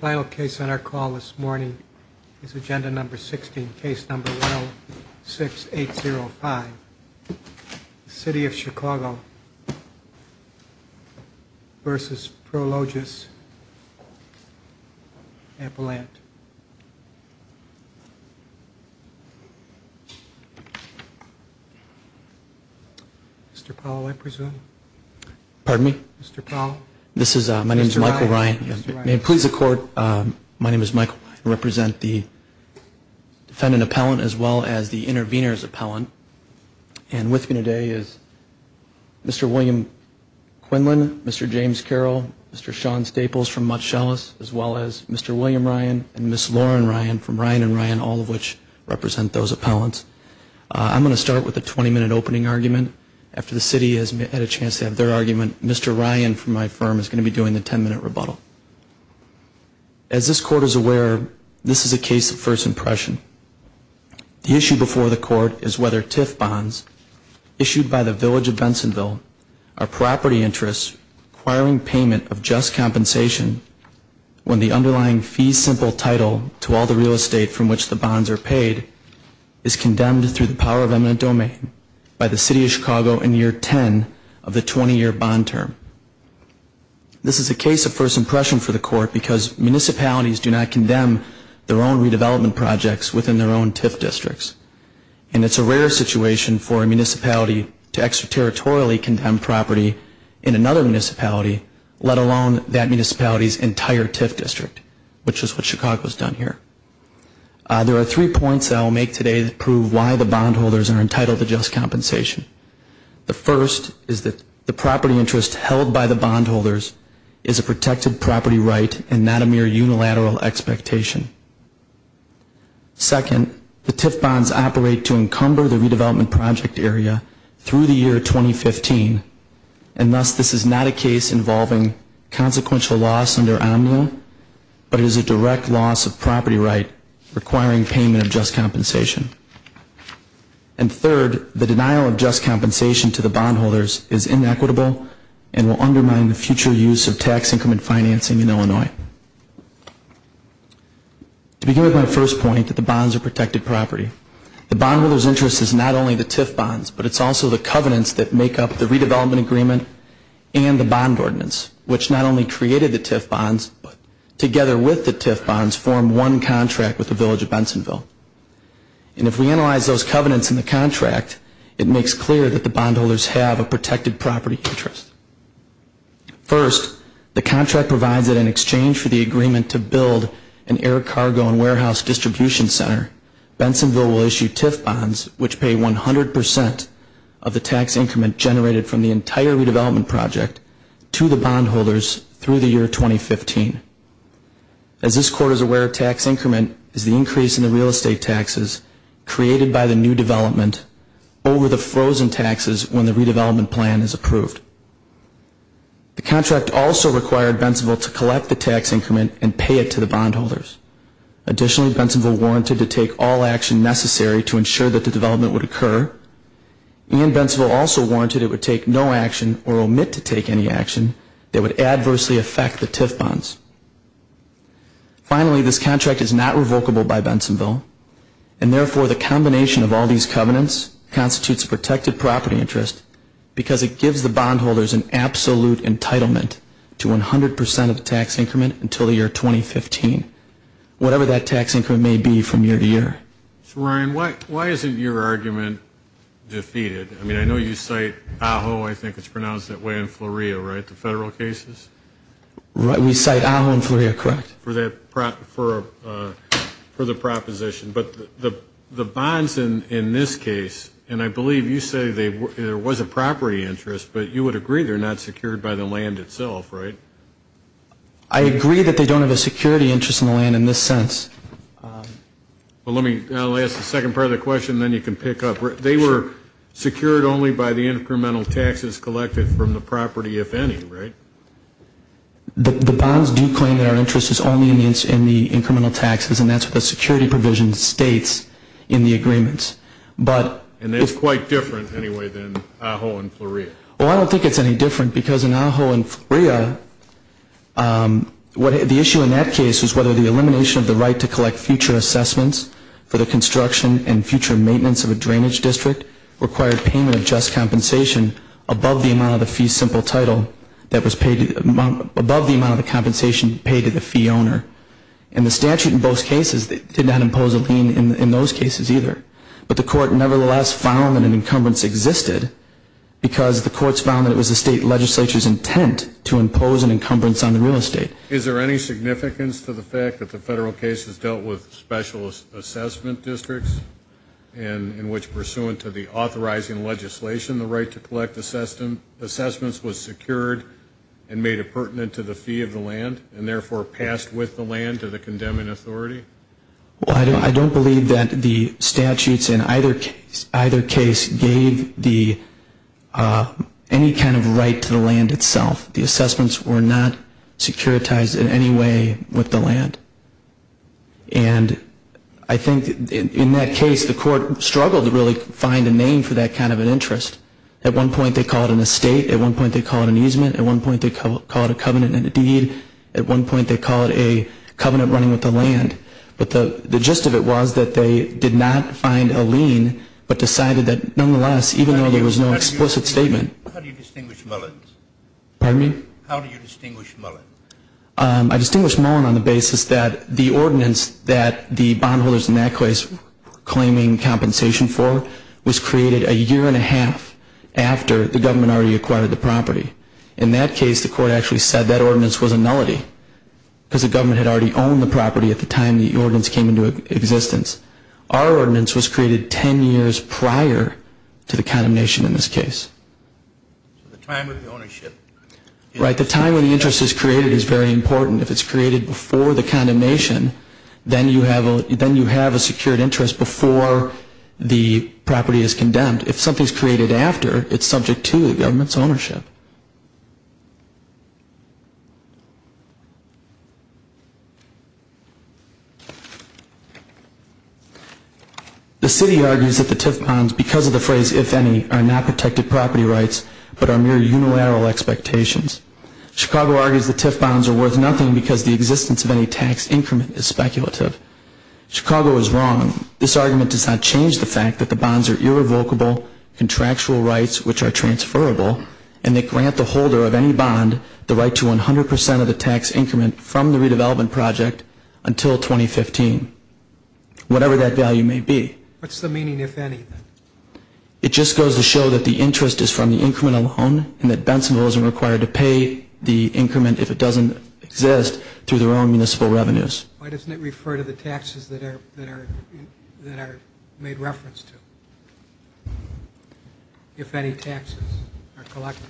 Final case on our call this morning is Agenda No. 16, Case No. 106805, City of Chicago v. Prologis, Appalachia. Mr. Powell, I presume? Pardon me? Mr. Powell? This is, my name is Michael Ryan. May it please the Court, my name is Michael. I represent the defendant appellant as well as the intervener's appellant. And with me today is Mr. William Quinlan, Mr. James Carroll, Mr. Sean Staples from Mott Shellis, as well as Mr. William Ryan and Ms. Lauren Ryan from Ryan and Ryan, all of which represent those appellants. I'm going to start with a 20-minute opening argument. After the City has had a chance to have their argument, Mr. Ryan from my firm is going to be doing the 10-minute rebuttal. As this Court is aware, this is a case of first impression. The issue before the Court is whether TIF bonds issued by the Village of Bensonville are property interests requiring payment of just compensation when the underlying fee simple title to all the real estate from which the bonds are paid is condemned through the power of eminent domain by the City of Chicago in year 10 of the 20-year bond term. This is a case of first impression for the Court because municipalities do not condemn their own redevelopment projects within their own TIF districts. And it's a rare situation for a municipality to extraterritorially condemn property in another municipality, let alone that municipality's entire TIF district, which is what Chicago has done here. There are three points I will make today that prove why the bondholders are entitled to just compensation. The first is that the property interest held by the bondholders is a protected property right and not a mere unilateral expectation. Second, the TIF bonds operate to encumber the redevelopment project area through the year 2015, and thus this is not a case involving consequential loss under OMNO, but it is a direct loss of property right requiring payment of just compensation. And third, the denial of just compensation to the bondholders is inequitable and will undermine the future use of tax increment financing in Illinois. To begin with my first point, that the bonds are protected property. The bondholders' interest is not only the TIF bonds, but it's also the covenants that make up the redevelopment agreement and the bond ordinance, which not only created the TIF bonds, but together with the TIF bonds formed one contract with the Village of Bensonville. And if we analyze those covenants in the contract, it makes clear that the bondholders have a protected property interest. First, the contract provides that in exchange for the agreement to build an air cargo and warehouse distribution center, Bensonville will issue TIF bonds which pay 100% of the tax increment generated from the entire redevelopment project to the bondholders through the year 2015. As this court is aware, tax increment is the increase in the real estate taxes created by the new development over the frozen taxes when the redevelopment plan is approved. The contract also required Bensonville to collect the tax increment and pay it to the bondholders. Additionally, Bensonville warranted to take all action necessary to ensure that the development would occur, and Bensonville also warranted it would take no action or omit to take any action that would adversely affect the TIF bonds. Finally, this contract is not revocable by Bensonville, and therefore the combination of all these covenants constitutes a protected property interest because it gives the bondholders an absolute entitlement to 100% of the tax increment until the year 2015, whatever that tax increment may be from year to year. So, Ryan, why isn't your argument defeated? I mean, I know you cite AHO, I think it's pronounced that way in Fleurie, right, the federal cases? We cite AHO in Fleurie, correct. For the proposition. But the bonds in this case, and I believe you say there was a property interest, but you would agree they're not secured by the land itself, right? I agree that they don't have a security interest in the land in this sense. Well, let me, I'll ask the second part of the question, then you can pick up. They were secured only by the incremental taxes collected from the property, if any, right? The bonds do claim that our interest is only in the incremental taxes, and that's what the security provision states in the agreements. And it's quite different, anyway, than AHO in Fleurie. Well, I don't think it's any different, because in AHO in Fleurie, the issue in that case was whether the elimination of the right to collect future assessments for the construction and future maintenance of a drainage district required payment of just compensation above the amount of the fee simple title that was paid, above the amount of the compensation paid to the fee owner. And the statute in both cases did not impose a lien in those cases either. But the court nevertheless found that an encumbrance existed, because the courts found that it was the state legislature's intent to impose an encumbrance on the real estate. Is there any significance to the fact that the federal case has dealt with specialist assessment districts, in which, pursuant to the authorizing legislation, the right to collect assessments was secured and made appurtenant to the fee of the land, and therefore passed with the land to the condemning authority? Well, I don't believe that the statutes in either case gave any kind of right to the land itself. The assessments were not securitized in any way with the land. And I think in that case, the court struggled to really find a name for that kind of an interest. At one point they called it an estate. At one point they called it an easement. At one point they called it a covenant and a deed. At one point they called it a covenant running with the land. But the gist of it was that they did not find a lien, but decided that nonetheless, even though there was no explicit statement. How do you distinguish Mullins? Pardon me? How do you distinguish Mullins? I distinguish Mullins on the basis that the ordinance that the bondholders in that case were claiming compensation for was created a year and a half after the government already acquired the property. In that case, the court actually said that ordinance was a nullity, because the government had already owned the property at the time the ordinance came into existence. Our ordinance was created ten years prior to the condemnation in this case. The time of the ownership. Right, the time when the interest is created is very important. If it's created before the condemnation, then you have a secured interest before the property is condemned. If something is created after, it's subject to the government's ownership. The city argues that the TIF bonds, because of the phrase if any, are not protected property rights, but are mere unilateral expectations. Chicago argues the TIF bonds are worth nothing because the existence of any tax increment is speculative. Chicago is wrong. This argument does not change the fact that the bonds are irrevocable, contractual rights which are transferable, and they grant the holder of any bond the right to 100 percent of the tax increment from the redevelopment project until 2015, whatever that value may be. What's the meaning if any? It just goes to show that the interest is from the increment alone, and that Bensonville isn't required to pay the increment if it doesn't exist through their own municipal revenues. Why doesn't it refer to the taxes that are made reference to? If any taxes are collected.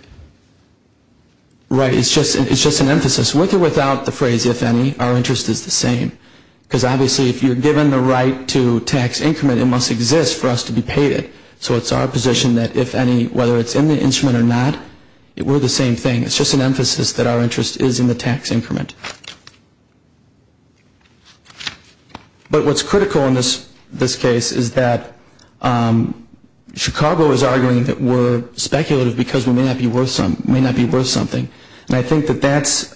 Right, it's just an emphasis. With or without the phrase if any, our interest is the same. Because obviously if you're given the right to tax increment, it must exist for us to be paid it. So it's our position that if any, whether it's in the instrument or not, we're the same thing. It's just an emphasis that our interest is in the tax increment. But what's critical in this case is that Chicago is arguing that we're speculative because we may not be worth something. And I think that that's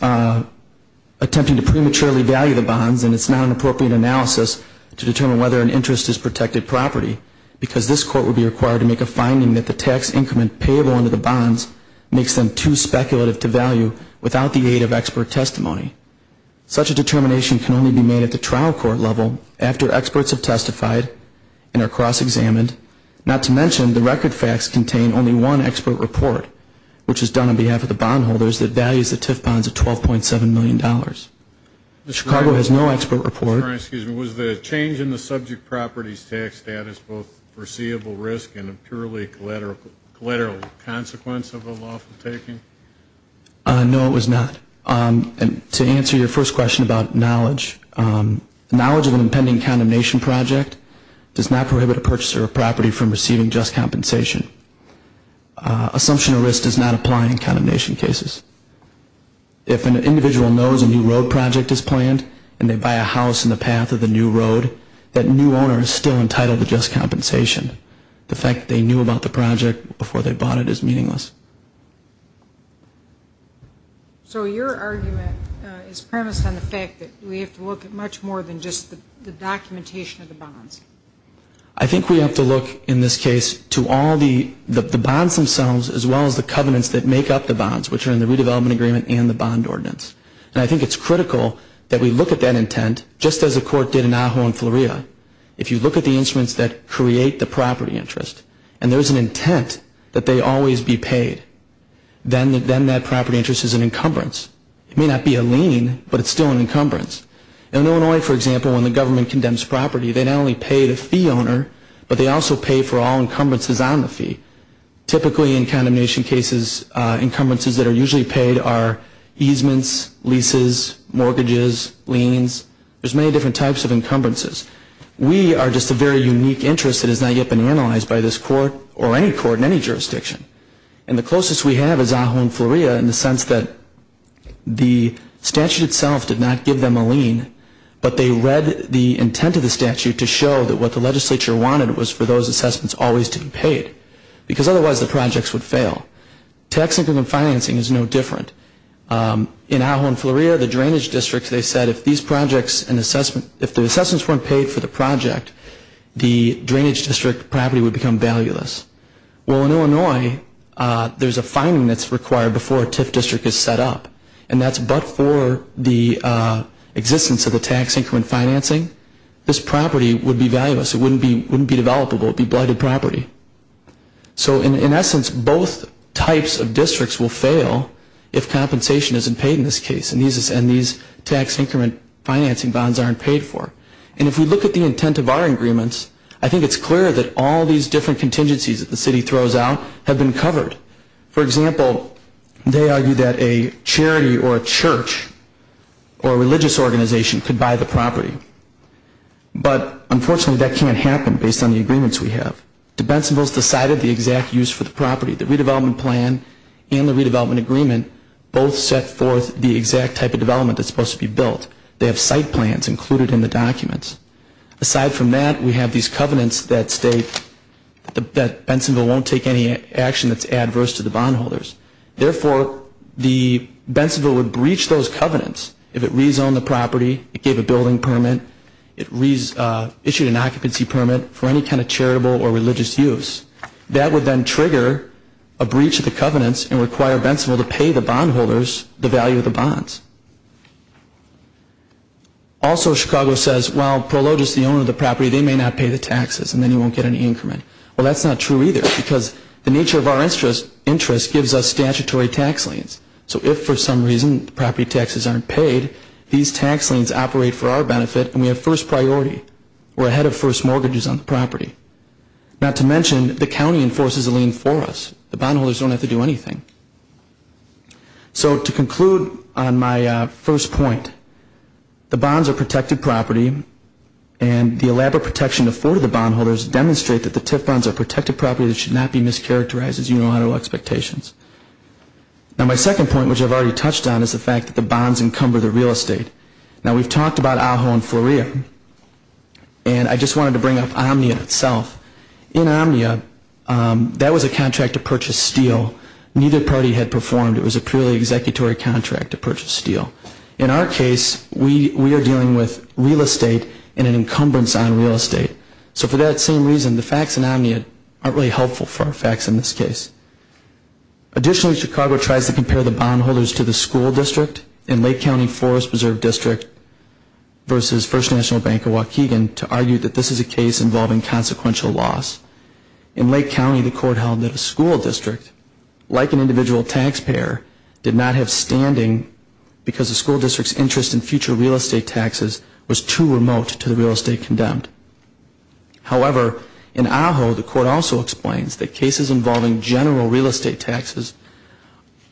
attempting to prematurely value the bonds, and it's not an appropriate analysis to determine whether an interest is protected property because this court would be required to make a finding that the tax increment payable under the bonds makes them too speculative to value without the aid of expert testimony. Such a determination can only be made at the trial court level after experts have testified and are cross-examined, not to mention the record facts contain only one expert report, which is done on behalf of the bondholders that values the TIF bonds at $12.7 million. Chicago has no expert report. Was the change in the subject property's tax status both foreseeable risk and a purely collateral consequence of the lawful taking? No, it was not. To answer your first question about knowledge, knowledge of an impending condemnation project does not prohibit a purchaser of property from receiving just compensation. Assumption of risk does not apply in condemnation cases. If an individual knows a new road project is planned and they buy a house in the path of the new road, that new owner is still entitled to just compensation. The fact that they knew about the project before they bought it is meaningless. So your argument is premised on the fact that we have to look at much more than just the documentation of the bonds. I think we have to look in this case to all the bonds themselves as well as the covenants that make up the bonds, which are in the redevelopment agreement and the bond ordinance. And I think it's critical that we look at that intent just as the court did in Ajo and Fleuria. If you look at the instruments that create the property interest, and there's an intent that they always be paid, then that property interest is an encumbrance. It may not be a lien, but it's still an encumbrance. In Illinois, for example, when the government condemns property, they not only pay the fee owner, but they also pay for all encumbrances on the fee. Typically in condemnation cases, encumbrances that are usually paid are easements, leases, mortgages, liens. There's many different types of encumbrances. We are just a very unique interest that has not yet been analyzed by this court or any court in any jurisdiction. And the closest we have is Ajo and Fleuria in the sense that the statute itself did not give them a lien, but they read the intent of the statute to show that what the legislature wanted was for those assessments always to be paid, because otherwise the projects would fail. Tax increment financing is no different. In Ajo and Fleuria, the drainage district, they said if the assessments weren't paid for the project, the drainage district property would become valueless. Well, in Illinois, there's a finding that's required before a TIF district is set up, and that's but for the existence of the tax increment financing, this property would be valueless. It wouldn't be developable. It would be blighted property. So in essence, both types of districts will fail if compensation isn't paid in this case and these tax increment financing bonds aren't paid for. And if we look at the intent of our agreements, I think it's clear that all these different contingencies that the city throws out have been covered. For example, they argue that a charity or a church or a religious organization could buy the property. But unfortunately, that can't happen based on the agreements we have. The Bensonville's decided the exact use for the property. The redevelopment plan and the redevelopment agreement both set forth the exact type of development that's supposed to be built. They have site plans included in the documents. Aside from that, we have these covenants that state that Bensonville won't take any action that's adverse to the bondholders. Therefore, the Bensonville would breach those covenants if it rezoned the property, it gave a building permit, it issued an occupancy permit for any kind of charitable or religious use. That would then trigger a breach of the covenants and require Bensonville to pay the bondholders the value of the bonds. Also, Chicago says, well, Prologis, the owner of the property, they may not pay the taxes and then you won't get any increment. Well, that's not true either because the nature of our interest gives us statutory tax liens. So if for some reason the property taxes aren't paid, these tax liens operate for our benefit and we have first priority. We're ahead of first mortgages on the property. Not to mention, the county enforces a lien for us. The bondholders don't have to do anything. So to conclude on my first point, the bonds are protected property and the elaborate protection afforded to the bondholders demonstrate that the TIF bonds are protected property that should not be mischaracterized as unilateral expectations. Now, my second point, which I've already touched on, is the fact that the bonds encumber the real estate. Now, we've talked about AHO and FLORIA and I just wanted to bring up Omnia itself. In Omnia, that was a contract to purchase steel. Neither party had performed. It was a purely executory contract to purchase steel. In our case, we are dealing with real estate and an encumbrance on real estate. So for that same reason, the facts in Omnia aren't really helpful for our facts in this case. Additionally, Chicago tries to compare the bondholders to the school district in Lake County Forest Preserve District versus First National Bank of Waukegan to argue that this is a case involving consequential loss. In Lake County, the court held that a school district, like an individual taxpayer, did not have standing because the school district's interest in future real estate taxes was too remote to the real estate condemned. However, in AHO, the court also explains that cases involving general real estate taxes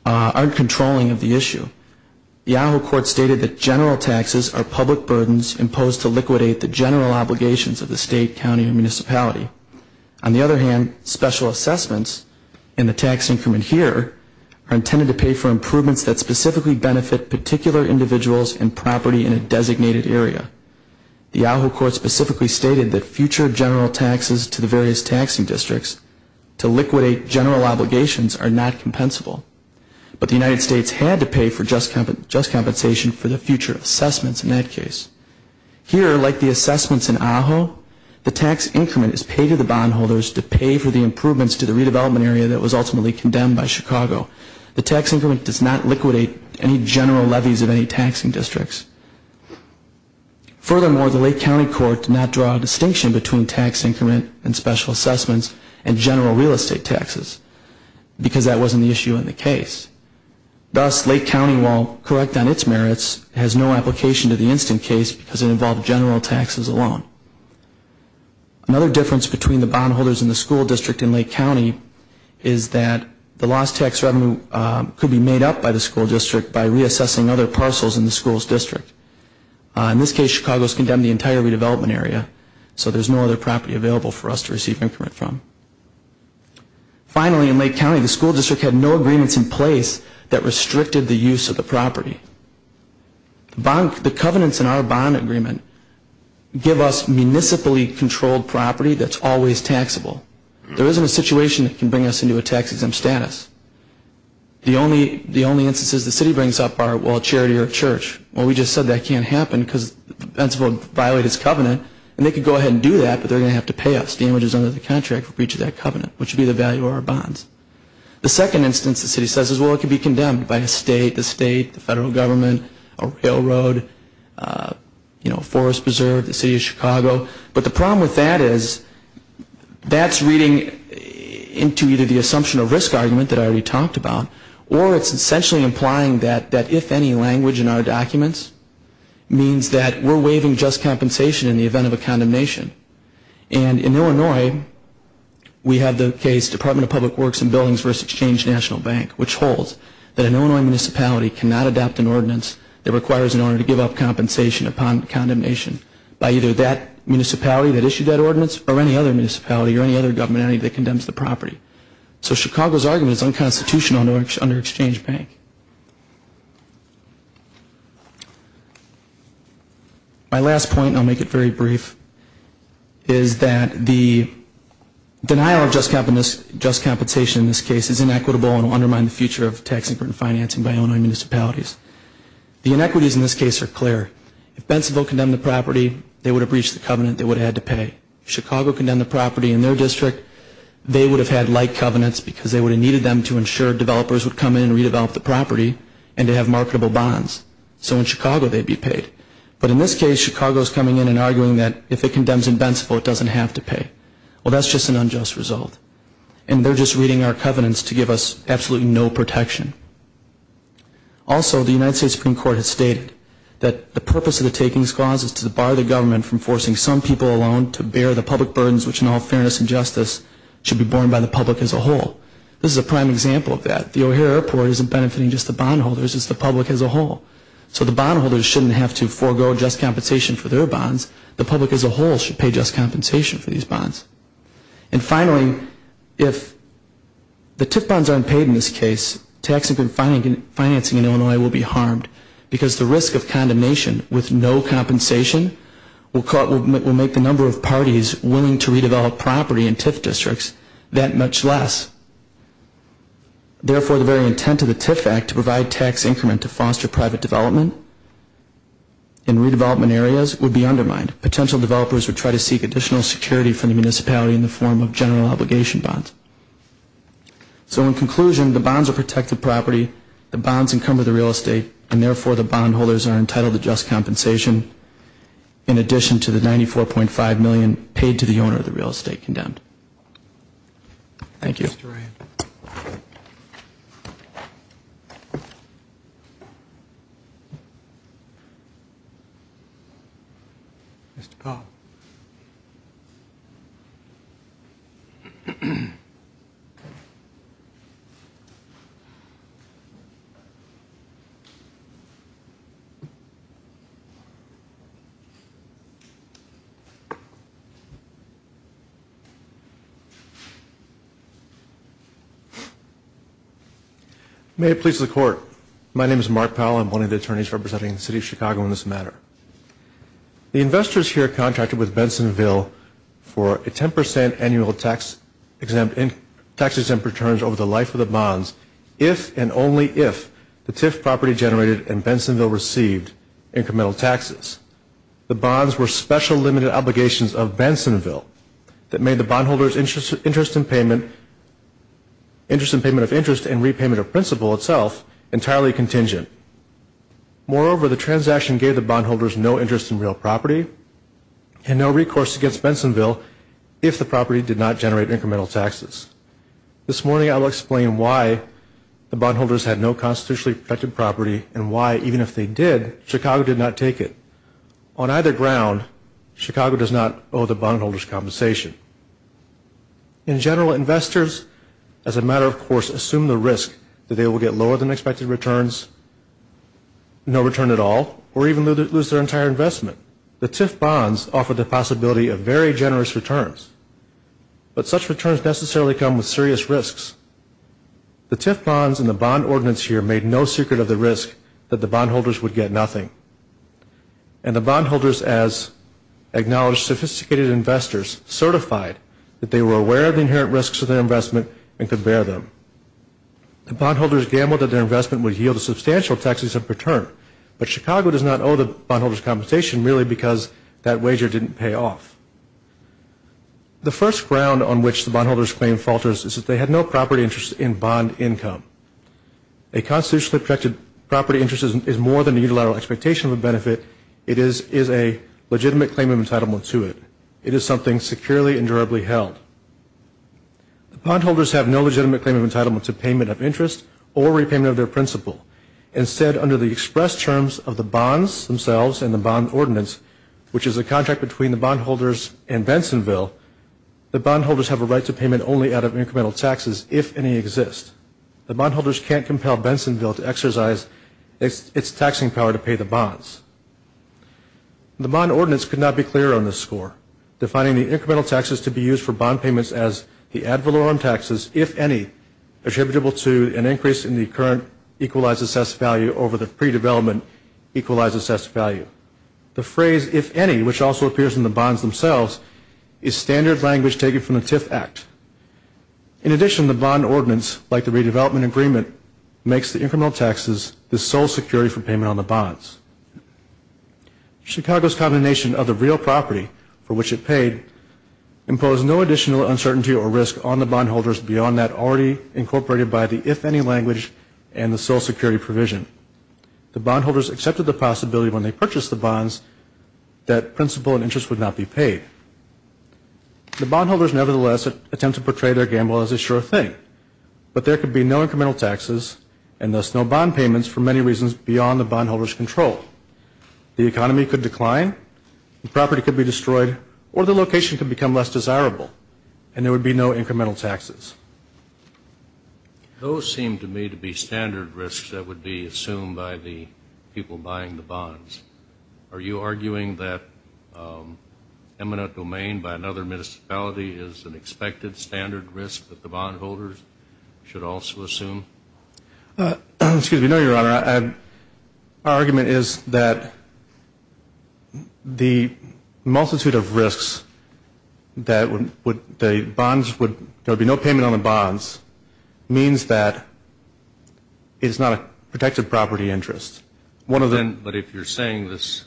aren't controlling of the issue. The AHO court stated that general taxes are public burdens imposed to liquidate the general obligations of the state, county, or municipality. On the other hand, special assessments in the tax increment here are intended to pay for improvements that specifically benefit particular individuals and property in a designated area. The AHO court specifically stated that future general taxes to the various taxing districts to liquidate general obligations are not compensable, but the United States had to pay for just compensation for the future assessments in that case. Here, like the assessments in AHO, the tax increment is paid to the bondholders to pay for the improvements to the redevelopment area that was ultimately condemned by Chicago. The tax increment does not liquidate any general levies of any taxing districts. Furthermore, the Lake County court did not draw a distinction between tax increment and special assessments and general real estate taxes because that wasn't the issue in the case. Thus, Lake County, while correct on its merits, has no application to the instant case because it involved general taxes alone. Another difference between the bondholders and the school district in Lake County is that the lost tax revenue could be made up by the school district by reassessing other parcels in the school's district. In this case, Chicago has condemned the entire redevelopment area, so there's no other property available for us to receive increment from. Finally, in Lake County, the school district had no agreements in place that restricted the use of the property. The covenants in our bond agreement give us municipally controlled property that's always taxable. There isn't a situation that can bring us into a tax-exempt status. The only instances the city brings up are, well, charity or church. Well, we just said that can't happen because the principal violated his covenant, and they could go ahead and do that, but they're going to have to pay us damages under the contract for breach of that covenant, which would be the value of our bonds. The second instance the city says is, well, it could be condemned by a state, the state, the federal government, a railroad, Forest Preserve, the city of Chicago. But the problem with that is that's reading into either the assumption of risk argument that I already talked about, or it's essentially implying that if any language in our documents means that we're waiving just compensation in the event of a condemnation. And in Illinois, we have the case Department of Public Works and Buildings v. Exchange National Bank, which holds that an Illinois municipality cannot adopt an ordinance that requires an owner to give up compensation upon condemnation by either that municipality that issued that ordinance or any other municipality or any other government entity that condemns the property. So Chicago's argument is unconstitutional under Exchange Bank. My last point, and I'll make it very brief, is that the denial of just compensation in this case is inequitable and will undermine the future of tax increment financing by Illinois municipalities. The inequities in this case are clear. If Bentonville condemned the property, they would have reached the covenant they would have had to pay. If Chicago condemned the property in their district, they would have had like covenants because they would have needed them to ensure developers would come in and redevelop the property and to have marketable bonds. So in Chicago, they'd be paid. But in this case, Chicago's coming in and arguing that if it condemns in Bentonville, it doesn't have to pay. Well, that's just an unjust result. And they're just reading our covenants to give us absolutely no protection. Also, the United States Supreme Court has stated that the purpose of the takings clause is to bar the government from forcing some people alone to bear the public burdens which in all fairness and justice should be borne by the public as a whole. This is a prime example of that. The O'Hare Airport isn't benefiting just the bondholders, it's the public as a whole. So the bondholders shouldn't have to forego just compensation for their bonds. The public as a whole should pay just compensation for these bonds. And finally, if the TIF bonds aren't paid in this case, tax increment financing in Illinois will be harmed because the risk of condemnation with no compensation will make the number of parties willing to redevelop property in TIF districts that much less. Therefore, the very intent of the TIF Act to provide tax increment to foster private development in redevelopment areas would be undermined. Potential developers would try to seek additional security from the municipality in the form of general obligation bonds. So in conclusion, the bonds are protected property, the bonds encumber the real estate, and therefore the bondholders are entitled to just compensation in addition to the $94.5 million paid to the owner of the real estate condemned. Thank you. Thank you, Mr. Ryan. May it please the Court. My name is Mark Powell. I'm one of the attorneys representing the City of Chicago in this matter. The investors here contracted with Bensonville for a 10 percent annual tax exempt returns over the life of the bonds if and only if the TIF property generated and Bensonville received incremental taxes. The bonds were special limited obligations of Bensonville that made the bondholders' interest in payment of interest and repayment of principal itself entirely contingent. Moreover, the transaction gave the bondholders no interest in real property and no recourse against Bensonville if the property did not generate incremental taxes. This morning I will explain why the bondholders had no constitutionally protected property and why, even if they did, Chicago did not take it. On either ground, Chicago does not owe the bondholders compensation. In general, investors, as a matter of course, assume the risk that they will get lower than expected returns, no return at all, or even lose their entire investment. The TIF bonds offer the possibility of very generous returns, but such returns necessarily come with serious risks. The TIF bonds and the bond ordinance here made no secret of the risk that the bondholders would get nothing, and the bondholders, as acknowledged sophisticated investors, certified that they were aware of the inherent risks of their investment and could bear them. The bondholders gambled that their investment would yield a substantial taxes of return, but Chicago does not owe the bondholders compensation merely because that wager didn't pay off. The first ground on which the bondholders' claim falters is that they had no property interest in bond income. A constitutionally protected property interest is more than a unilateral expectation of a benefit. It is a legitimate claim of entitlement to it. It is something securely and durably held. The bondholders have no legitimate claim of entitlement to payment of interest or repayment of their principal. Instead, under the express terms of the bonds themselves and the bond ordinance, which is a contract between the bondholders and Bensonville, the bondholders have a right to payment only out of incremental taxes if any exist. The bondholders can't compel Bensonville to exercise its taxing power to pay the bonds. The bond ordinance could not be clearer on this score, defining the incremental taxes to be used for bond payments as the ad valorem taxes, if any, attributable to an increase in the current equalized assessed value over the pre-development equalized assessed value. The phrase, if any, which also appears in the bonds themselves, is standard language taken from the TIF Act. In addition, the bond ordinance, like the redevelopment agreement, makes the incremental taxes the sole security for payment on the bonds. Chicago's combination of the real property for which it paid imposed no additional uncertainty or risk on the bondholders beyond that already incorporated by the if any language and the sole security provision. The bondholders accepted the possibility when they purchased the bonds that principal and interest would not be paid. The bondholders, nevertheless, attempt to portray their gamble as a sure thing, but there could be no incremental taxes and thus no bond payments for many reasons beyond the bondholder's control. The economy could decline, the property could be destroyed, or the location could become less desirable, and there would be no incremental taxes. Those seem to me to be standard risks that would be assumed by the people buying the bonds. Are you arguing that eminent domain by another municipality is an expected standard risk that the bondholders should also assume? No, Your Honor. Our argument is that the multitude of risks that would be no payment on the bonds means that it is not a protected property interest. But if you're saying this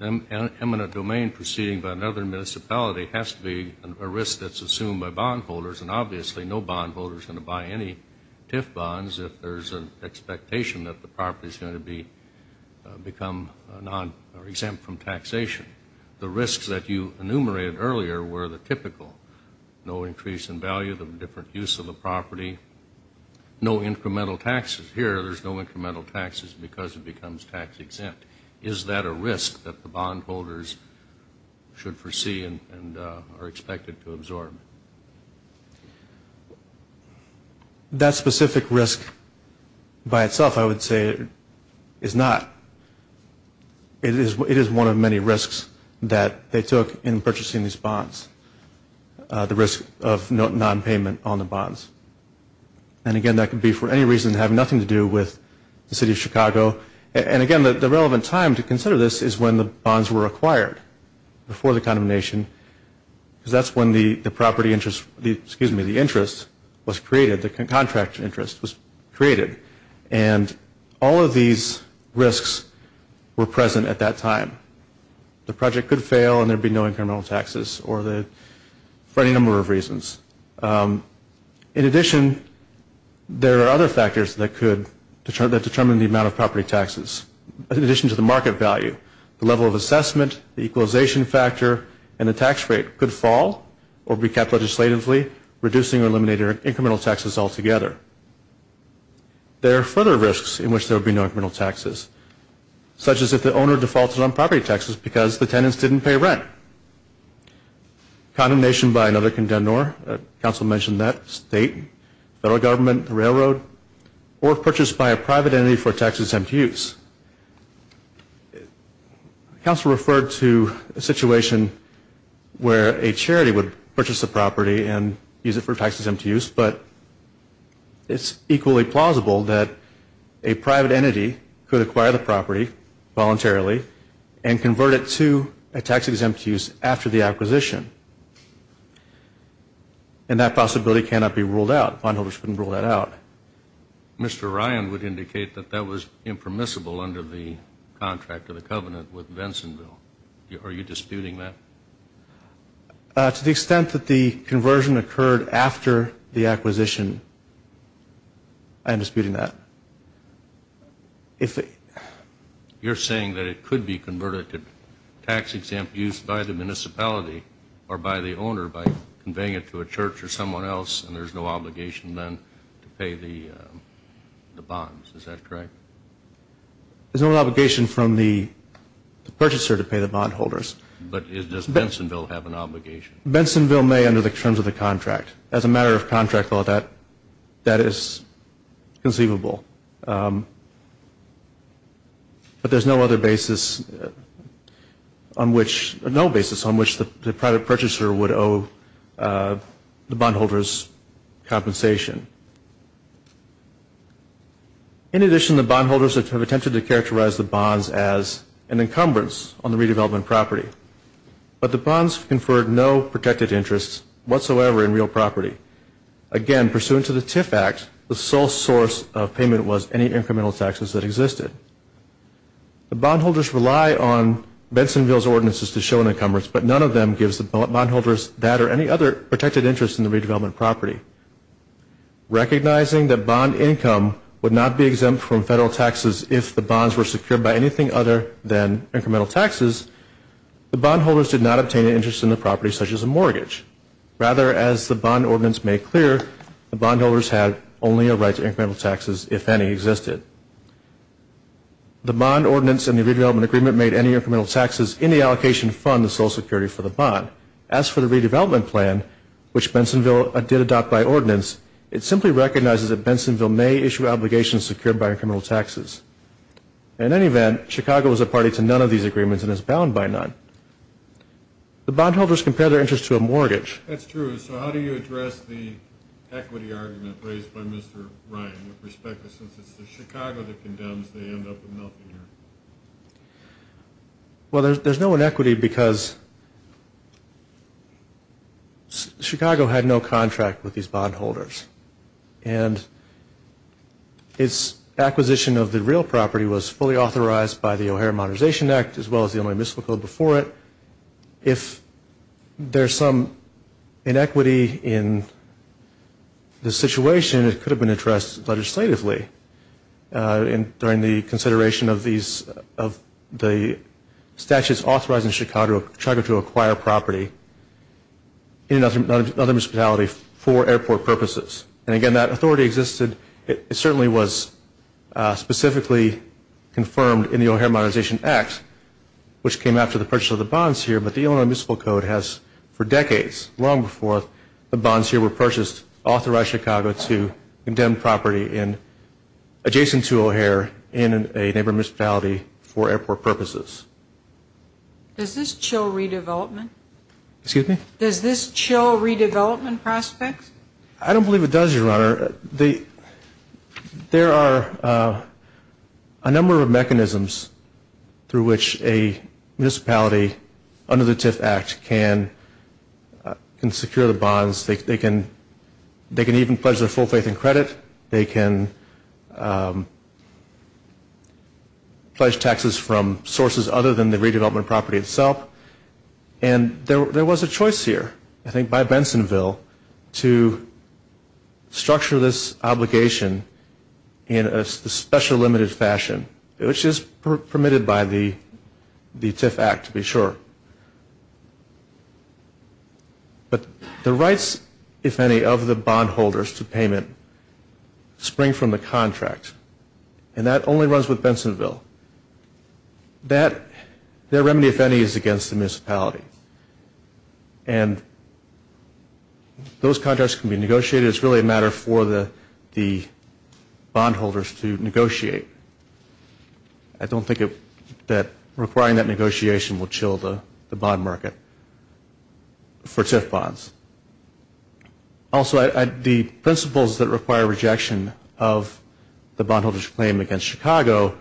eminent domain proceeding by another municipality has to be a risk that's assumed by bondholders, and obviously no bondholder is going to buy any TIF bonds if there's an expectation that the property is going to become exempt from taxation. The risks that you enumerated earlier were the typical, no increase in value, the different use of the property, no incremental taxes. Because it becomes tax-exempt. Is that a risk that the bondholders should foresee and are expected to absorb? That specific risk by itself, I would say, is not. It is one of many risks that they took in purchasing these bonds, and, again, that could be for any reason having nothing to do with the city of Chicago. And, again, the relevant time to consider this is when the bonds were acquired, before the condemnation, because that's when the property interest, excuse me, the interest was created, the contract interest was created. And all of these risks were present at that time. The project could fail and there'd be no incremental taxes for any number of reasons. In addition, there are other factors that could determine the amount of property taxes. In addition to the market value, the level of assessment, the equalization factor, and the tax rate could fall or be kept legislatively, reducing or eliminating incremental taxes altogether. There are further risks in which there would be no incremental taxes, such as if the owner defaulted on property taxes because the tenants didn't pay rent. Condemnation by another condemnor, council mentioned that, state, federal government, railroad, or purchased by a private entity for tax-exempt use. Council referred to a situation where a charity would purchase a property and use it for tax-exempt use, but it's equally plausible that a private entity could acquire the property voluntarily and convert it to a tax-exempt use after the acquisition. And that possibility cannot be ruled out. Bondholders couldn't rule that out. Mr. Ryan would indicate that that was impermissible under the contract of the covenant with Vinsonville. Are you disputing that? To the extent that the conversion occurred after the acquisition, I am disputing that. You're saying that it could be converted to tax-exempt use by the municipality or by the owner by conveying it to a church or someone else, and there's no obligation then to pay the bonds, is that correct? There's no obligation from the purchaser to pay the bondholders. But does Vinsonville have an obligation? Vinsonville may under the terms of the contract. As a matter of contract, that is conceivable. But there's no other basis on which the private purchaser would owe the bondholders compensation. In addition, the bondholders have attempted to characterize the bonds as an encumbrance on the redevelopment property. But the bonds conferred no protected interests whatsoever in real property. Again, pursuant to the TIF Act, the sole source of payment was any incremental taxes that existed. The bondholders rely on Vinsonville's ordinances to show an encumbrance, but none of them gives the bondholders that or any other protected interest in the redevelopment property. Recognizing that bond income would not be exempt from federal taxes if the bonds were secured by anything other than incremental taxes, the bondholders did not obtain an interest in the property such as a mortgage. Rather, as the bond ordinance made clear, the bondholders had only a right to incremental taxes if any existed. The bond ordinance and the redevelopment agreement made any incremental taxes in the allocation fund the sole security for the bond. As for the redevelopment plan, which Vinsonville did adopt by ordinance, it simply recognizes that Vinsonville may issue obligations secured by incremental taxes. In any event, Chicago is a party to none of these agreements and is bound by none. The bondholders compare their interest to a mortgage. That's true. So how do you address the equity argument raised by Mr. Ryan, with respect to since it's Chicago that condemns, they end up with nothing here? Well, there's no inequity because Chicago had no contract with these bondholders and its acquisition of the real property was fully authorized by the O'Hare Modernization Act as well as the only municipal code before it. If there's some inequity in the situation, it could have been addressed legislatively during the consideration of the statutes authorizing Chicago to acquire property in another municipality for airport purposes. And, again, that authority existed. It certainly was specifically confirmed in the O'Hare Modernization Act, which came after the purchase of the bonds here, but the only municipal code has for decades, long before the bonds here were purchased, authorized Chicago to condemn property adjacent to O'Hare in a neighbor municipality for airport purposes. Does this chill redevelopment? Excuse me? Does this chill redevelopment prospects? I don't believe it does, Your Honor. There are a number of mechanisms through which a municipality under the TIF Act can secure the bonds. They can even pledge their full faith in credit. They can pledge taxes from sources other than the redevelopment property itself. And there was a choice here, I think, by Bensonville to structure this obligation in a special limited fashion, which is permitted by the TIF Act, to be sure. But the rights, if any, of the bondholders to payment spring from the contract, and that only runs with Bensonville. That, their remedy, if any, is against the municipality. And those contracts can be negotiated. It's really a matter for the bondholders to negotiate. I don't think that requiring that negotiation will chill the bond market for TIF bonds. Also, the principles that require rejection of the bondholders' claim against Chicago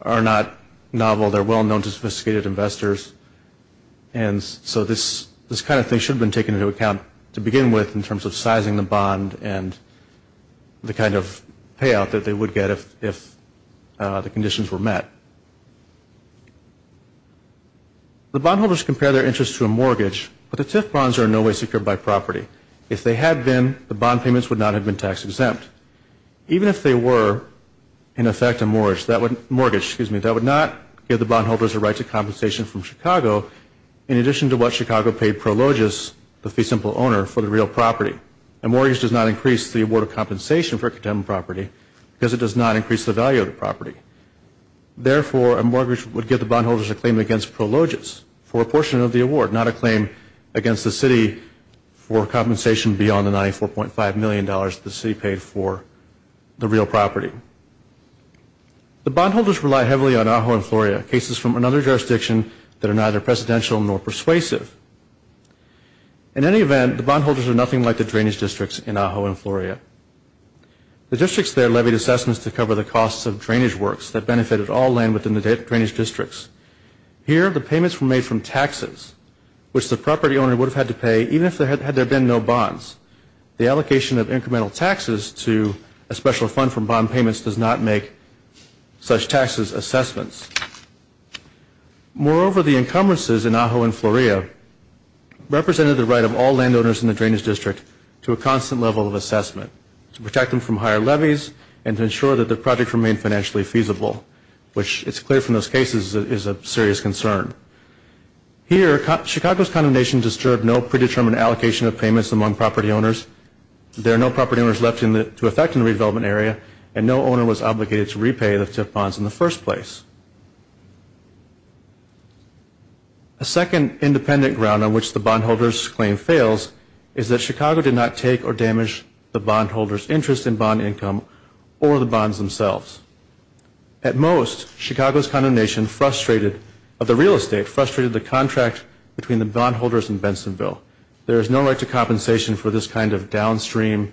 are not novel. They're well known to sophisticated investors. And so this kind of thing should have been taken into account to begin with in terms of sizing the bond and the kind of payout that they would get if the conditions were met. The bondholders compare their interest to a mortgage, but the TIF bonds are in no way secured by property. If they had been, the bond payments would not have been tax-exempt. Even if they were, in effect, a mortgage, that would not give the bondholders a right to compensation from Chicago, in addition to what Chicago paid Prologis, the fee simple owner, for the real property. A mortgage does not increase the award of compensation for a condemned property because it does not increase the value of the property. Therefore, a mortgage would give the bondholders a claim against Prologis for a portion of the award, not a claim against the city for compensation beyond the $94.5 million the city paid for the real property. The bondholders rely heavily on AHO and FLORIA, cases from another jurisdiction that are neither precedential nor persuasive. In any event, the bondholders are nothing like the drainage districts in AHO and FLORIA. The districts there levied assessments to cover the costs of drainage works that benefited all land within the drainage districts. Here, the payments were made from taxes, which the property owner would have had to pay, even if there had been no bonds. The allocation of incremental taxes to a special fund from bond payments does not make such taxes assessments. Moreover, the encumbrances in AHO and FLORIA represented the right of all landowners in the drainage district to a constant level of assessment to protect them from higher levies and to ensure that the project remained financially feasible, which it's clear from those cases is a serious concern. Here, Chicago's condemnation disturbed no predetermined allocation of payments among property owners. There are no property owners left to affect in the redevelopment area, and no owner was obligated to repay the bonds in the first place. A second independent ground on which the bondholders' claim fails is that Chicago did not take or damage the bondholders' interest in bond income or the bonds themselves. At most, Chicago's condemnation of the real estate frustrated the contract between the bondholders and Bensonville. There is no right to compensation for this kind of downstream,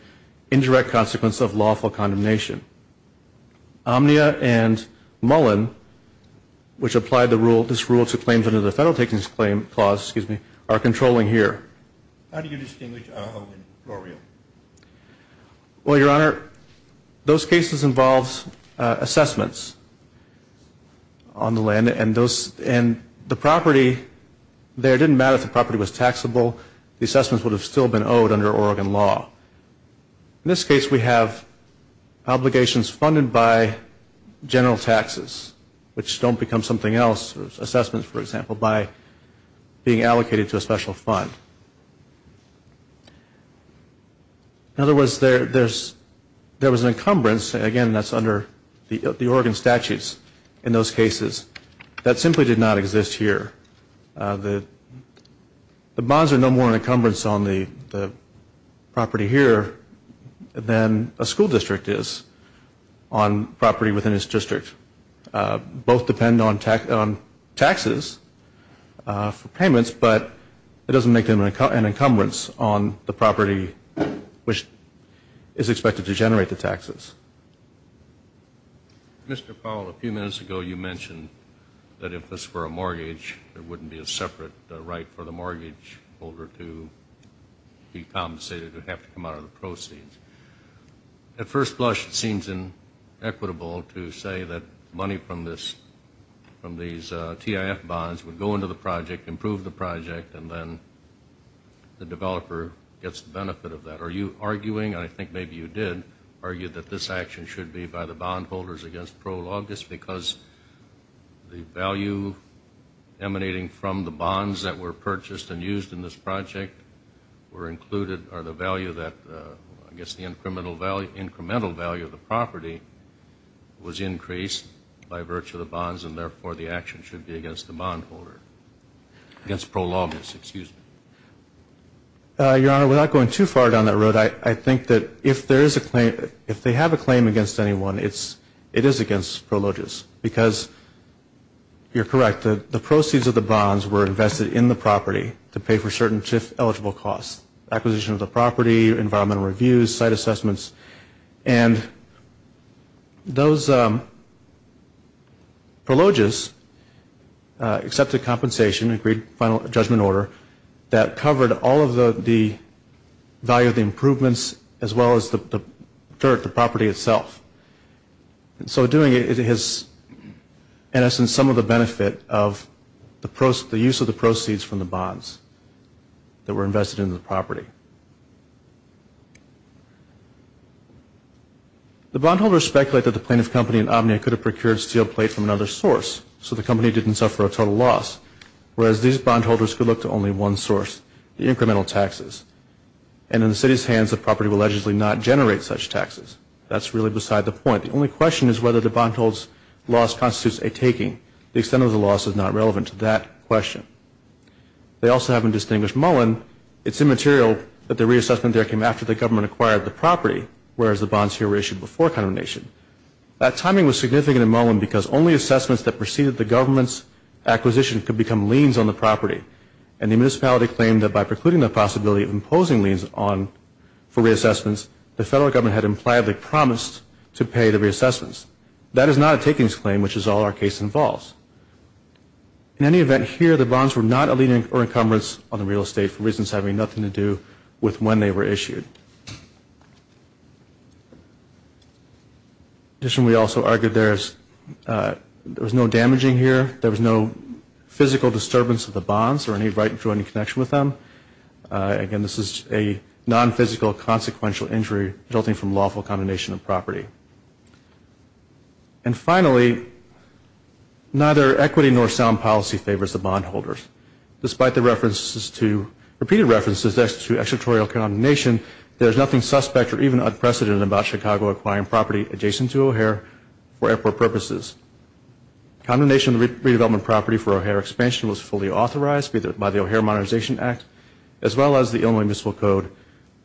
indirect consequence of lawful condemnation. Omnia and Mullen, which applied this rule to claims under the Federal Takings Clause, are controlling here. How do you distinguish AHO and FLORIA? Well, Your Honor, those cases involved assessments on the land, and the property there didn't matter if the property was taxable. The assessments would have still been owed under Oregon law. In this case, we have obligations funded by general taxes, which don't become something else, assessments, for example, by being allocated to a special fund. In other words, there was an encumbrance, again, that's under the Oregon statutes in those cases, that simply did not exist here. The bonds are no more an encumbrance on the property here than a school district is on property within its district. Both depend on taxes for payments, but it doesn't make them an encumbrance on the property which is expected to generate the taxes. Mr. Powell, a few minutes ago you mentioned that if this were a mortgage, there wouldn't be a separate right for the mortgage holder to be compensated. It would have to come out of the proceeds. At first blush, it seems inequitable to say that money from these TIF bonds would go into the project, improve the project, and then the developer gets the benefit of that. Are you arguing, and I think maybe you did, argue that this action should be by the bondholders against prologus because the value emanating from the bonds that were purchased and used in this project were included, or the value that I guess the incremental value of the property was increased by virtue of the bonds, and therefore the action should be against the bondholder, against prologus. Excuse me. Your Honor, without going too far down that road, I think that if there is a claim, if they have a claim against anyone, it is against prologus because you're correct. The proceeds of the bonds were invested in the property to pay for certain TIF eligible costs, acquisition of the property, environmental reviews, site assessments, and those prologus accepted compensation, agreed final judgment order, that covered all of the value of the improvements as well as the dirt, the property itself. So doing it has, in essence, some of the benefit of the use of the proceeds from the bonds that were invested in the property. The bondholders speculate that the plaintiff company in Omnia could have procured steel plates from another source, so the company didn't suffer a total loss, whereas these bondholders could look to only one source, the incremental taxes, and in the city's hands, the property will allegedly not generate such taxes. That's really beside the point. The only question is whether the bondholder's loss constitutes a taking. The extent of the loss is not relevant to that question. They also haven't distinguished Mullen. It's immaterial that the reassessment there came after the government acquired the property, whereas the bonds here were issued before condemnation. That timing was significant in Mullen because only assessments that preceded the government's acquisition could become liens on the property, and the municipality claimed that by precluding the possibility of imposing liens for reassessments, the federal government had impliably promised to pay the reassessments. That is not a takings claim, which is all our case involves. In any event, here the bonds were not a lien or encumbrance on the real estate for reasons having nothing to do with when they were issued. Additionally, we also argued there was no damaging here. There was no physical disturbance of the bonds or any right to any connection with them. Again, this is a nonphysical consequential injury resulting from lawful condemnation of property. And finally, neither equity nor sound policy favors the bondholders. Despite the repeated references to extraterritorial condemnation, there is nothing suspect or even unprecedented about Chicago acquiring property adjacent to O'Hare for airport purposes. Condemnation of the redevelopment property for O'Hare expansion was fully authorized by the O'Hare Modernization Act, as well as the Illinois Municipal Code,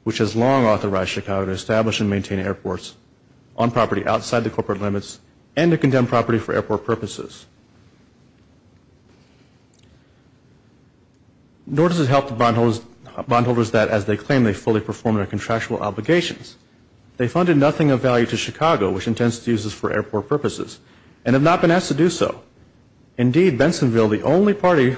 which has long authorized Chicago to establish and maintain airports on property outside the corporate limits and to condemn property for airport purposes. Nor does it help the bondholders that, as they claim, they fully perform their contractual obligations. They funded nothing of value to Chicago, which intends to use this for airport purposes, and have not been asked to do so. Indeed, Bensonville, the only party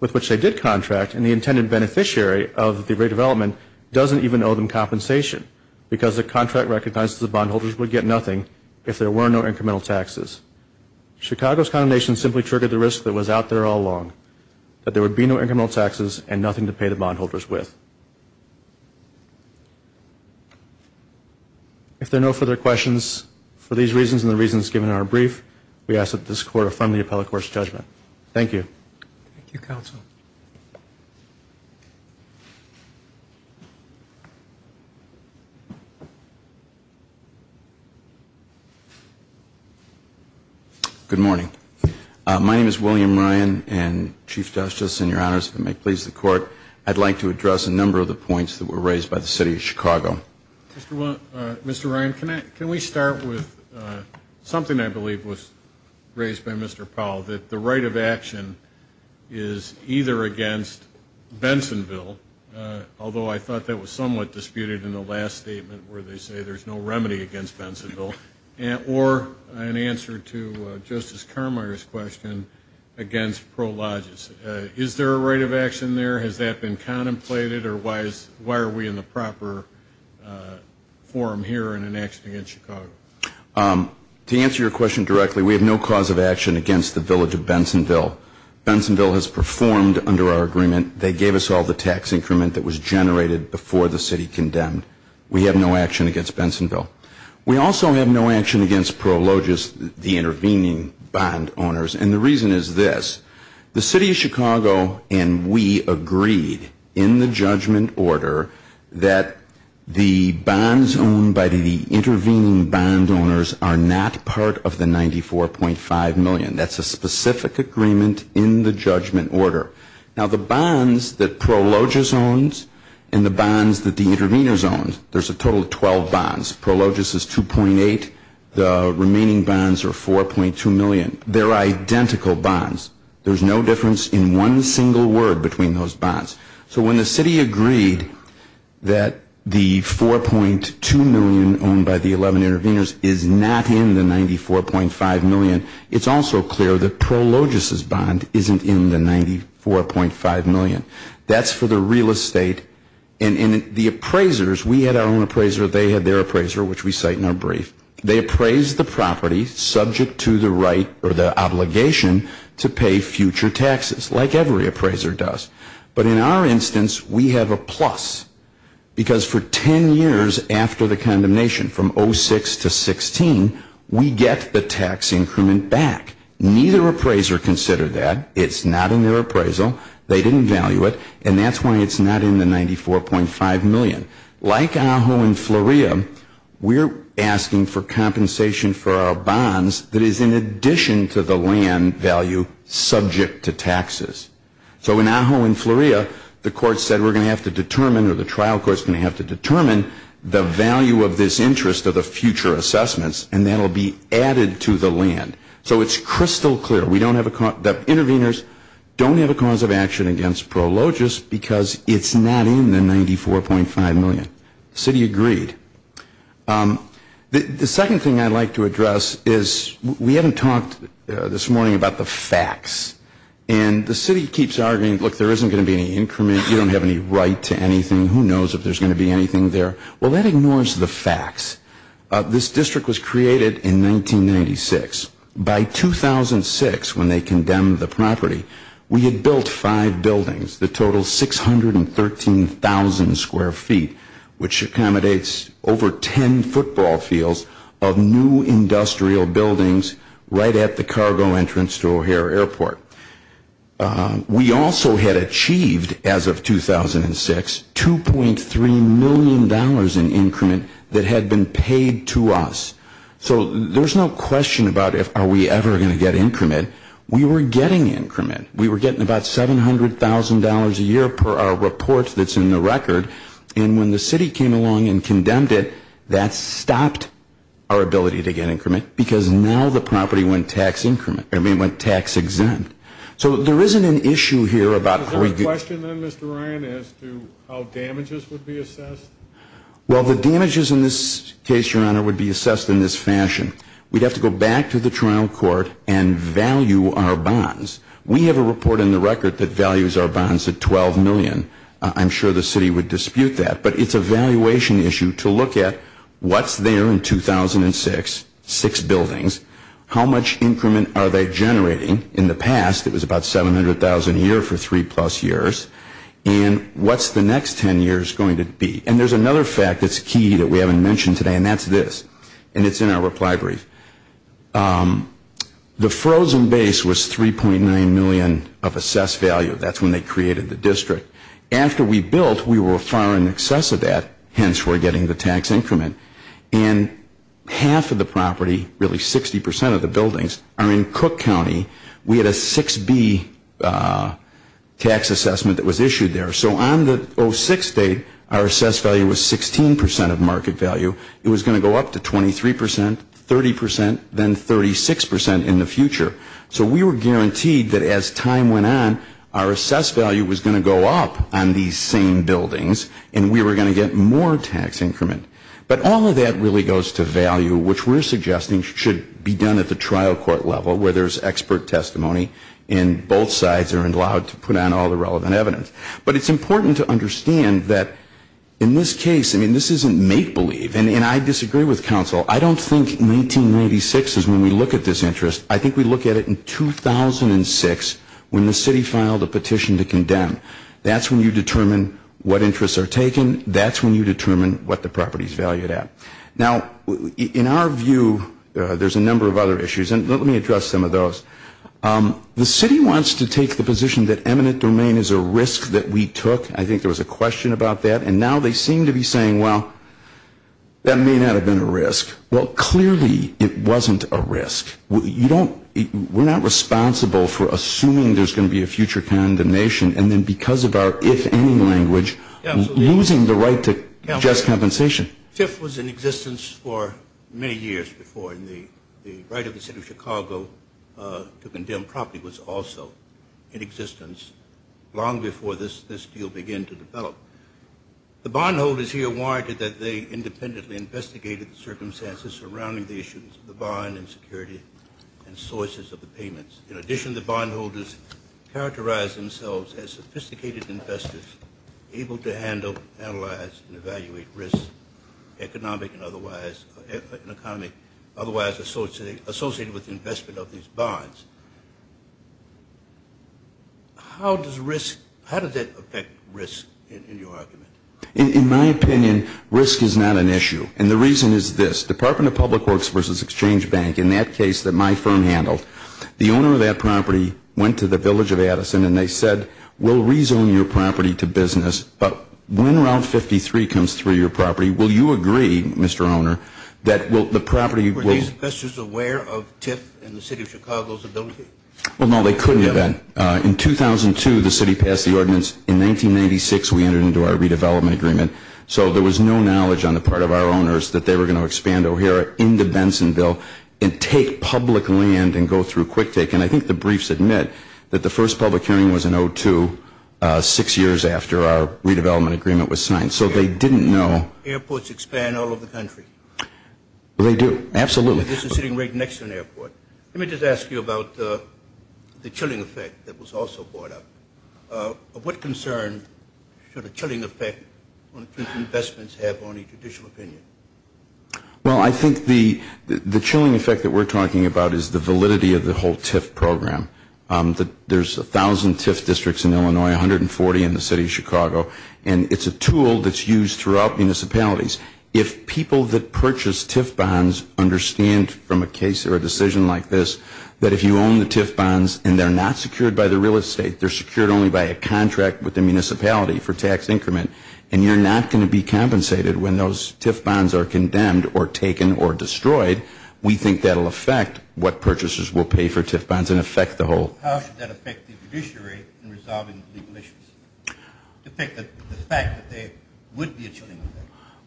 with which they did contract, and the intended beneficiary of the redevelopment, doesn't even owe them compensation because the contract recognizes the bondholders would get nothing if there were no incremental taxes. Chicago's condemnation simply triggered the risk that was out there all along, that there would be no incremental taxes and nothing to pay the bondholders with. If there are no further questions for these reasons and the reasons given in our brief, we ask that this Court affirm the appellate court's judgment. Thank you. Thank you, Counsel. Good morning. My name is William Ryan, and Chief Justice and Your Honors, if it may please the Court, I'd like to address a number of the points that were raised by the City of Chicago. Mr. Ryan, can we start with something I believe was raised by Mr. Powell, that the right of action is either against Bensonville, although I thought that was somewhat disputed in the last statement, where they say there's no remedy against Bensonville, or in answer to Justice Carmier's question, against Pro Logis. Is there a right of action there? Has that been contemplated, or why are we in the proper forum here in an action against Chicago? To answer your question directly, we have no cause of action against the village of Bensonville. Bensonville has performed under our agreement. They gave us all the tax increment that was generated before the city condemned. We have no action against Bensonville. We also have no action against Pro Logis, the intervening bond owners. And the reason is this. The City of Chicago and we agreed in the judgment order that the bonds owned by the intervening bond owners are not part of the 94.5 million. That's a specific agreement in the judgment order. Now, the bonds that Pro Logis owns and the bonds that the interveners own, there's a total of 12 bonds. Pro Logis is 2.8. The remaining bonds are 4.2 million. They're identical bonds. There's no difference in one single word between those bonds. So when the city agreed that the 4.2 million owned by the 11 interveners is not in the 94.5 million, it's also clear that Pro Logis' bond isn't in the 94.5 million. That's for the real estate. And the appraisers, we had our own appraiser, they had their appraiser, which we cite in our brief. They appraised the property subject to the right or the obligation to pay future taxes, like every appraiser does. But in our instance, we have a plus, because for 10 years after the condemnation, from 06 to 16, we get the tax increment back. Neither appraiser considered that. It's not in their appraisal. They didn't value it. And that's why it's not in the 94.5 million. Like Ajo and Fleuria, we're asking for compensation for our bonds that is in addition to the land value subject to taxes. So in Ajo and Fleuria, the court said we're going to have to determine or the trial court's going to have to determine the value of this interest of the future assessments, and that will be added to the land. So it's crystal clear. We don't have a cause, the interveners don't have a cause of action against Pro Logis because it's not in the 94.5 million. The city agreed. The second thing I'd like to address is we haven't talked this morning about the facts. And the city keeps arguing, look, there isn't going to be any increment. You don't have any right to anything. Who knows if there's going to be anything there. Well, that ignores the facts. This district was created in 1996. By 2006, when they condemned the property, we had built five buildings that total 613,000 square feet, which accommodates over 10 football fields of new industrial buildings right at the cargo entrance to O'Hare Airport. We also had achieved, as of 2006, $2.3 million in increment that had been paid to us. So there's no question about if are we ever going to get increment. We were getting increment. We were getting about $700,000 a year per our report that's in the record. And when the city came along and condemned it, that stopped our ability to get increment because now the property went tax increment. I mean, went tax exempt. So there isn't an issue here about how we get. Is there a question then, Mr. Ryan, as to how damages would be assessed? Well, the damages in this case, Your Honor, would be assessed in this fashion. We'd have to go back to the trial court and value our bonds. We have a report in the record that values our bonds at $12 million. I'm sure the city would dispute that. But it's a valuation issue to look at what's there in 2006, six buildings. How much increment are they generating? In the past, it was about $700,000 a year for three-plus years. And what's the next 10 years going to be? And there's another fact that's key that we haven't mentioned today, and that's this. And it's in our reply brief. The frozen base was $3.9 million of assessed value. That's when they created the district. After we built, we were far in excess of that. Hence, we're getting the tax increment. And half of the property, really 60% of the buildings, are in Cook County. We had a 6B tax assessment that was issued there. So on the 06 date, our assessed value was 16% of market value. It was going to go up to 23%, 30%, then 36% in the future. So we were guaranteed that as time went on, our assessed value was going to go up on these same buildings, and we were going to get more tax increment. But all of that really goes to value, which we're suggesting should be done at the trial court level, where there's expert testimony, and both sides are allowed to put on all the relevant evidence. But it's important to understand that in this case, I mean, this isn't make-believe. And I disagree with counsel. I don't think 1996 is when we look at this interest. I think we look at it in 2006 when the city filed a petition to condemn. That's when you determine what interests are taken. That's when you determine what the property is valued at. Now, in our view, there's a number of other issues, and let me address some of those. The city wants to take the position that eminent domain is a risk that we took. I think there was a question about that. And now they seem to be saying, well, that may not have been a risk. Well, clearly it wasn't a risk. We're not responsible for assuming there's going to be a future condemnation, and then because of our if-any language, losing the right to just compensation. Fifth was in existence for many years before, and the right of the city of Chicago to condemn property was also in existence long before this deal began to develop. The bondholders here warranted that they independently investigated the circumstances surrounding the issues of the bond and security and sources of the payments. In addition, the bondholders characterized themselves as sophisticated investors, able to handle, analyze, and evaluate risk, economic and otherwise associated with investment of these bonds. How does risk, how does that affect risk in your argument? In my opinion, risk is not an issue, and the reason is this. Department of Public Works versus Exchange Bank, in that case that my firm handled, the owner of that property went to the village of Addison and they said, we'll rezone your property to business, but when Route 53 comes through your property, will you agree, Mr. Owner, that the property will Were these investors aware of TIF and the city of Chicago's ability? Well, no, they couldn't have been. In 2002, the city passed the ordinance. In 1996, we entered into our redevelopment agreement, so there was no knowledge on the part of our owners that they were going to expand O'Hara into Bensonville and take public land and go through quick take, and I think the briefs admit that the first public hearing was in 02, six years after our redevelopment agreement was signed, so they didn't know. Airports expand all over the country. They do, absolutely. This is sitting right next to an airport. Let me just ask you about the chilling effect that was also brought up. What concern should a chilling effect on TIF investments have on a judicial opinion? Well, I think the chilling effect that we're talking about is the validity of the whole TIF program. There's 1,000 TIF districts in Illinois, 140 in the city of Chicago, and it's a tool that's used throughout municipalities. If people that purchase TIF bonds understand from a case or a decision like this that if you own the TIF bonds and they're not secured by the real estate, they're secured only by a contract with the municipality for tax increment, and you're not going to be compensated when those TIF bonds are condemned or taken or destroyed, we think that will affect what purchasers will pay for TIF bonds and affect the whole. How should that affect the judiciary in resolving the legal issues? To pick the fact that they would be a chilling effect.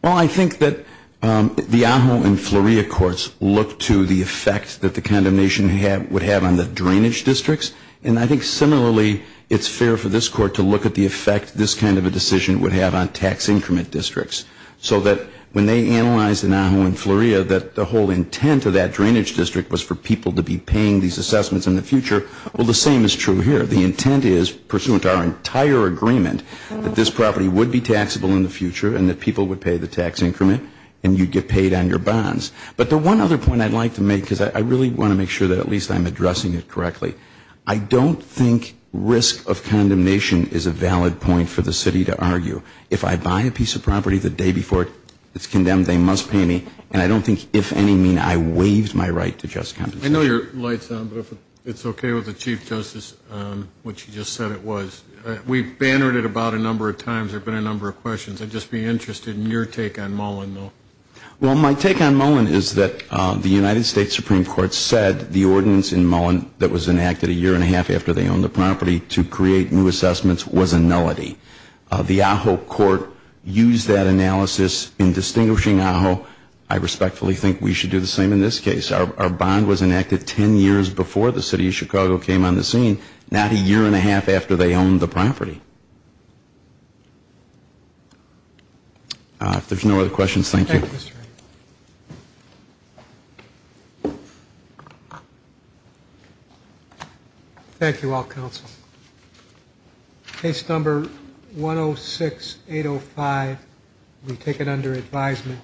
Well, I think that the Ajo and Fleuria courts look to the effect that the condemnation would have on the drainage districts, and I think similarly it's fair for this court to look at the effect this kind of a decision would have on tax increment districts so that when they analyze in Ajo and Fleuria that the whole intent of that drainage district was for people to be paying these assessments in the future, well, the same is true here. The intent is, pursuant to our entire agreement, that this property would be taxable in the future and that people would pay the tax increment and you'd get paid on your bonds. But the one other point I'd like to make, because I really want to make sure that at least I'm addressing it correctly, I don't think risk of condemnation is a valid point for the city to argue. If I buy a piece of property the day before it's condemned, they must pay me, and I don't think if any mean I waived my right to just compensation. I know your light's on, but if it's okay with the Chief Justice, which you just said it was. We've bannered it about a number of times. There have been a number of questions. I'd just be interested in your take on Mullen, though. Well, my take on Mullen is that the United States Supreme Court said the ordinance in Mullen that was enacted a year and a half after they owned the property to create new assessments was a nullity. The Ajo court used that analysis in distinguishing Ajo. I respectfully think we should do the same in this case. Our bond was enacted ten years before the city of Chicago came on the scene, not a year and a half after they owned the property. If there's no other questions, thank you. Thank you, Mr. Wright. Thank you all, counsel. Case number 106805, we take it under advisement.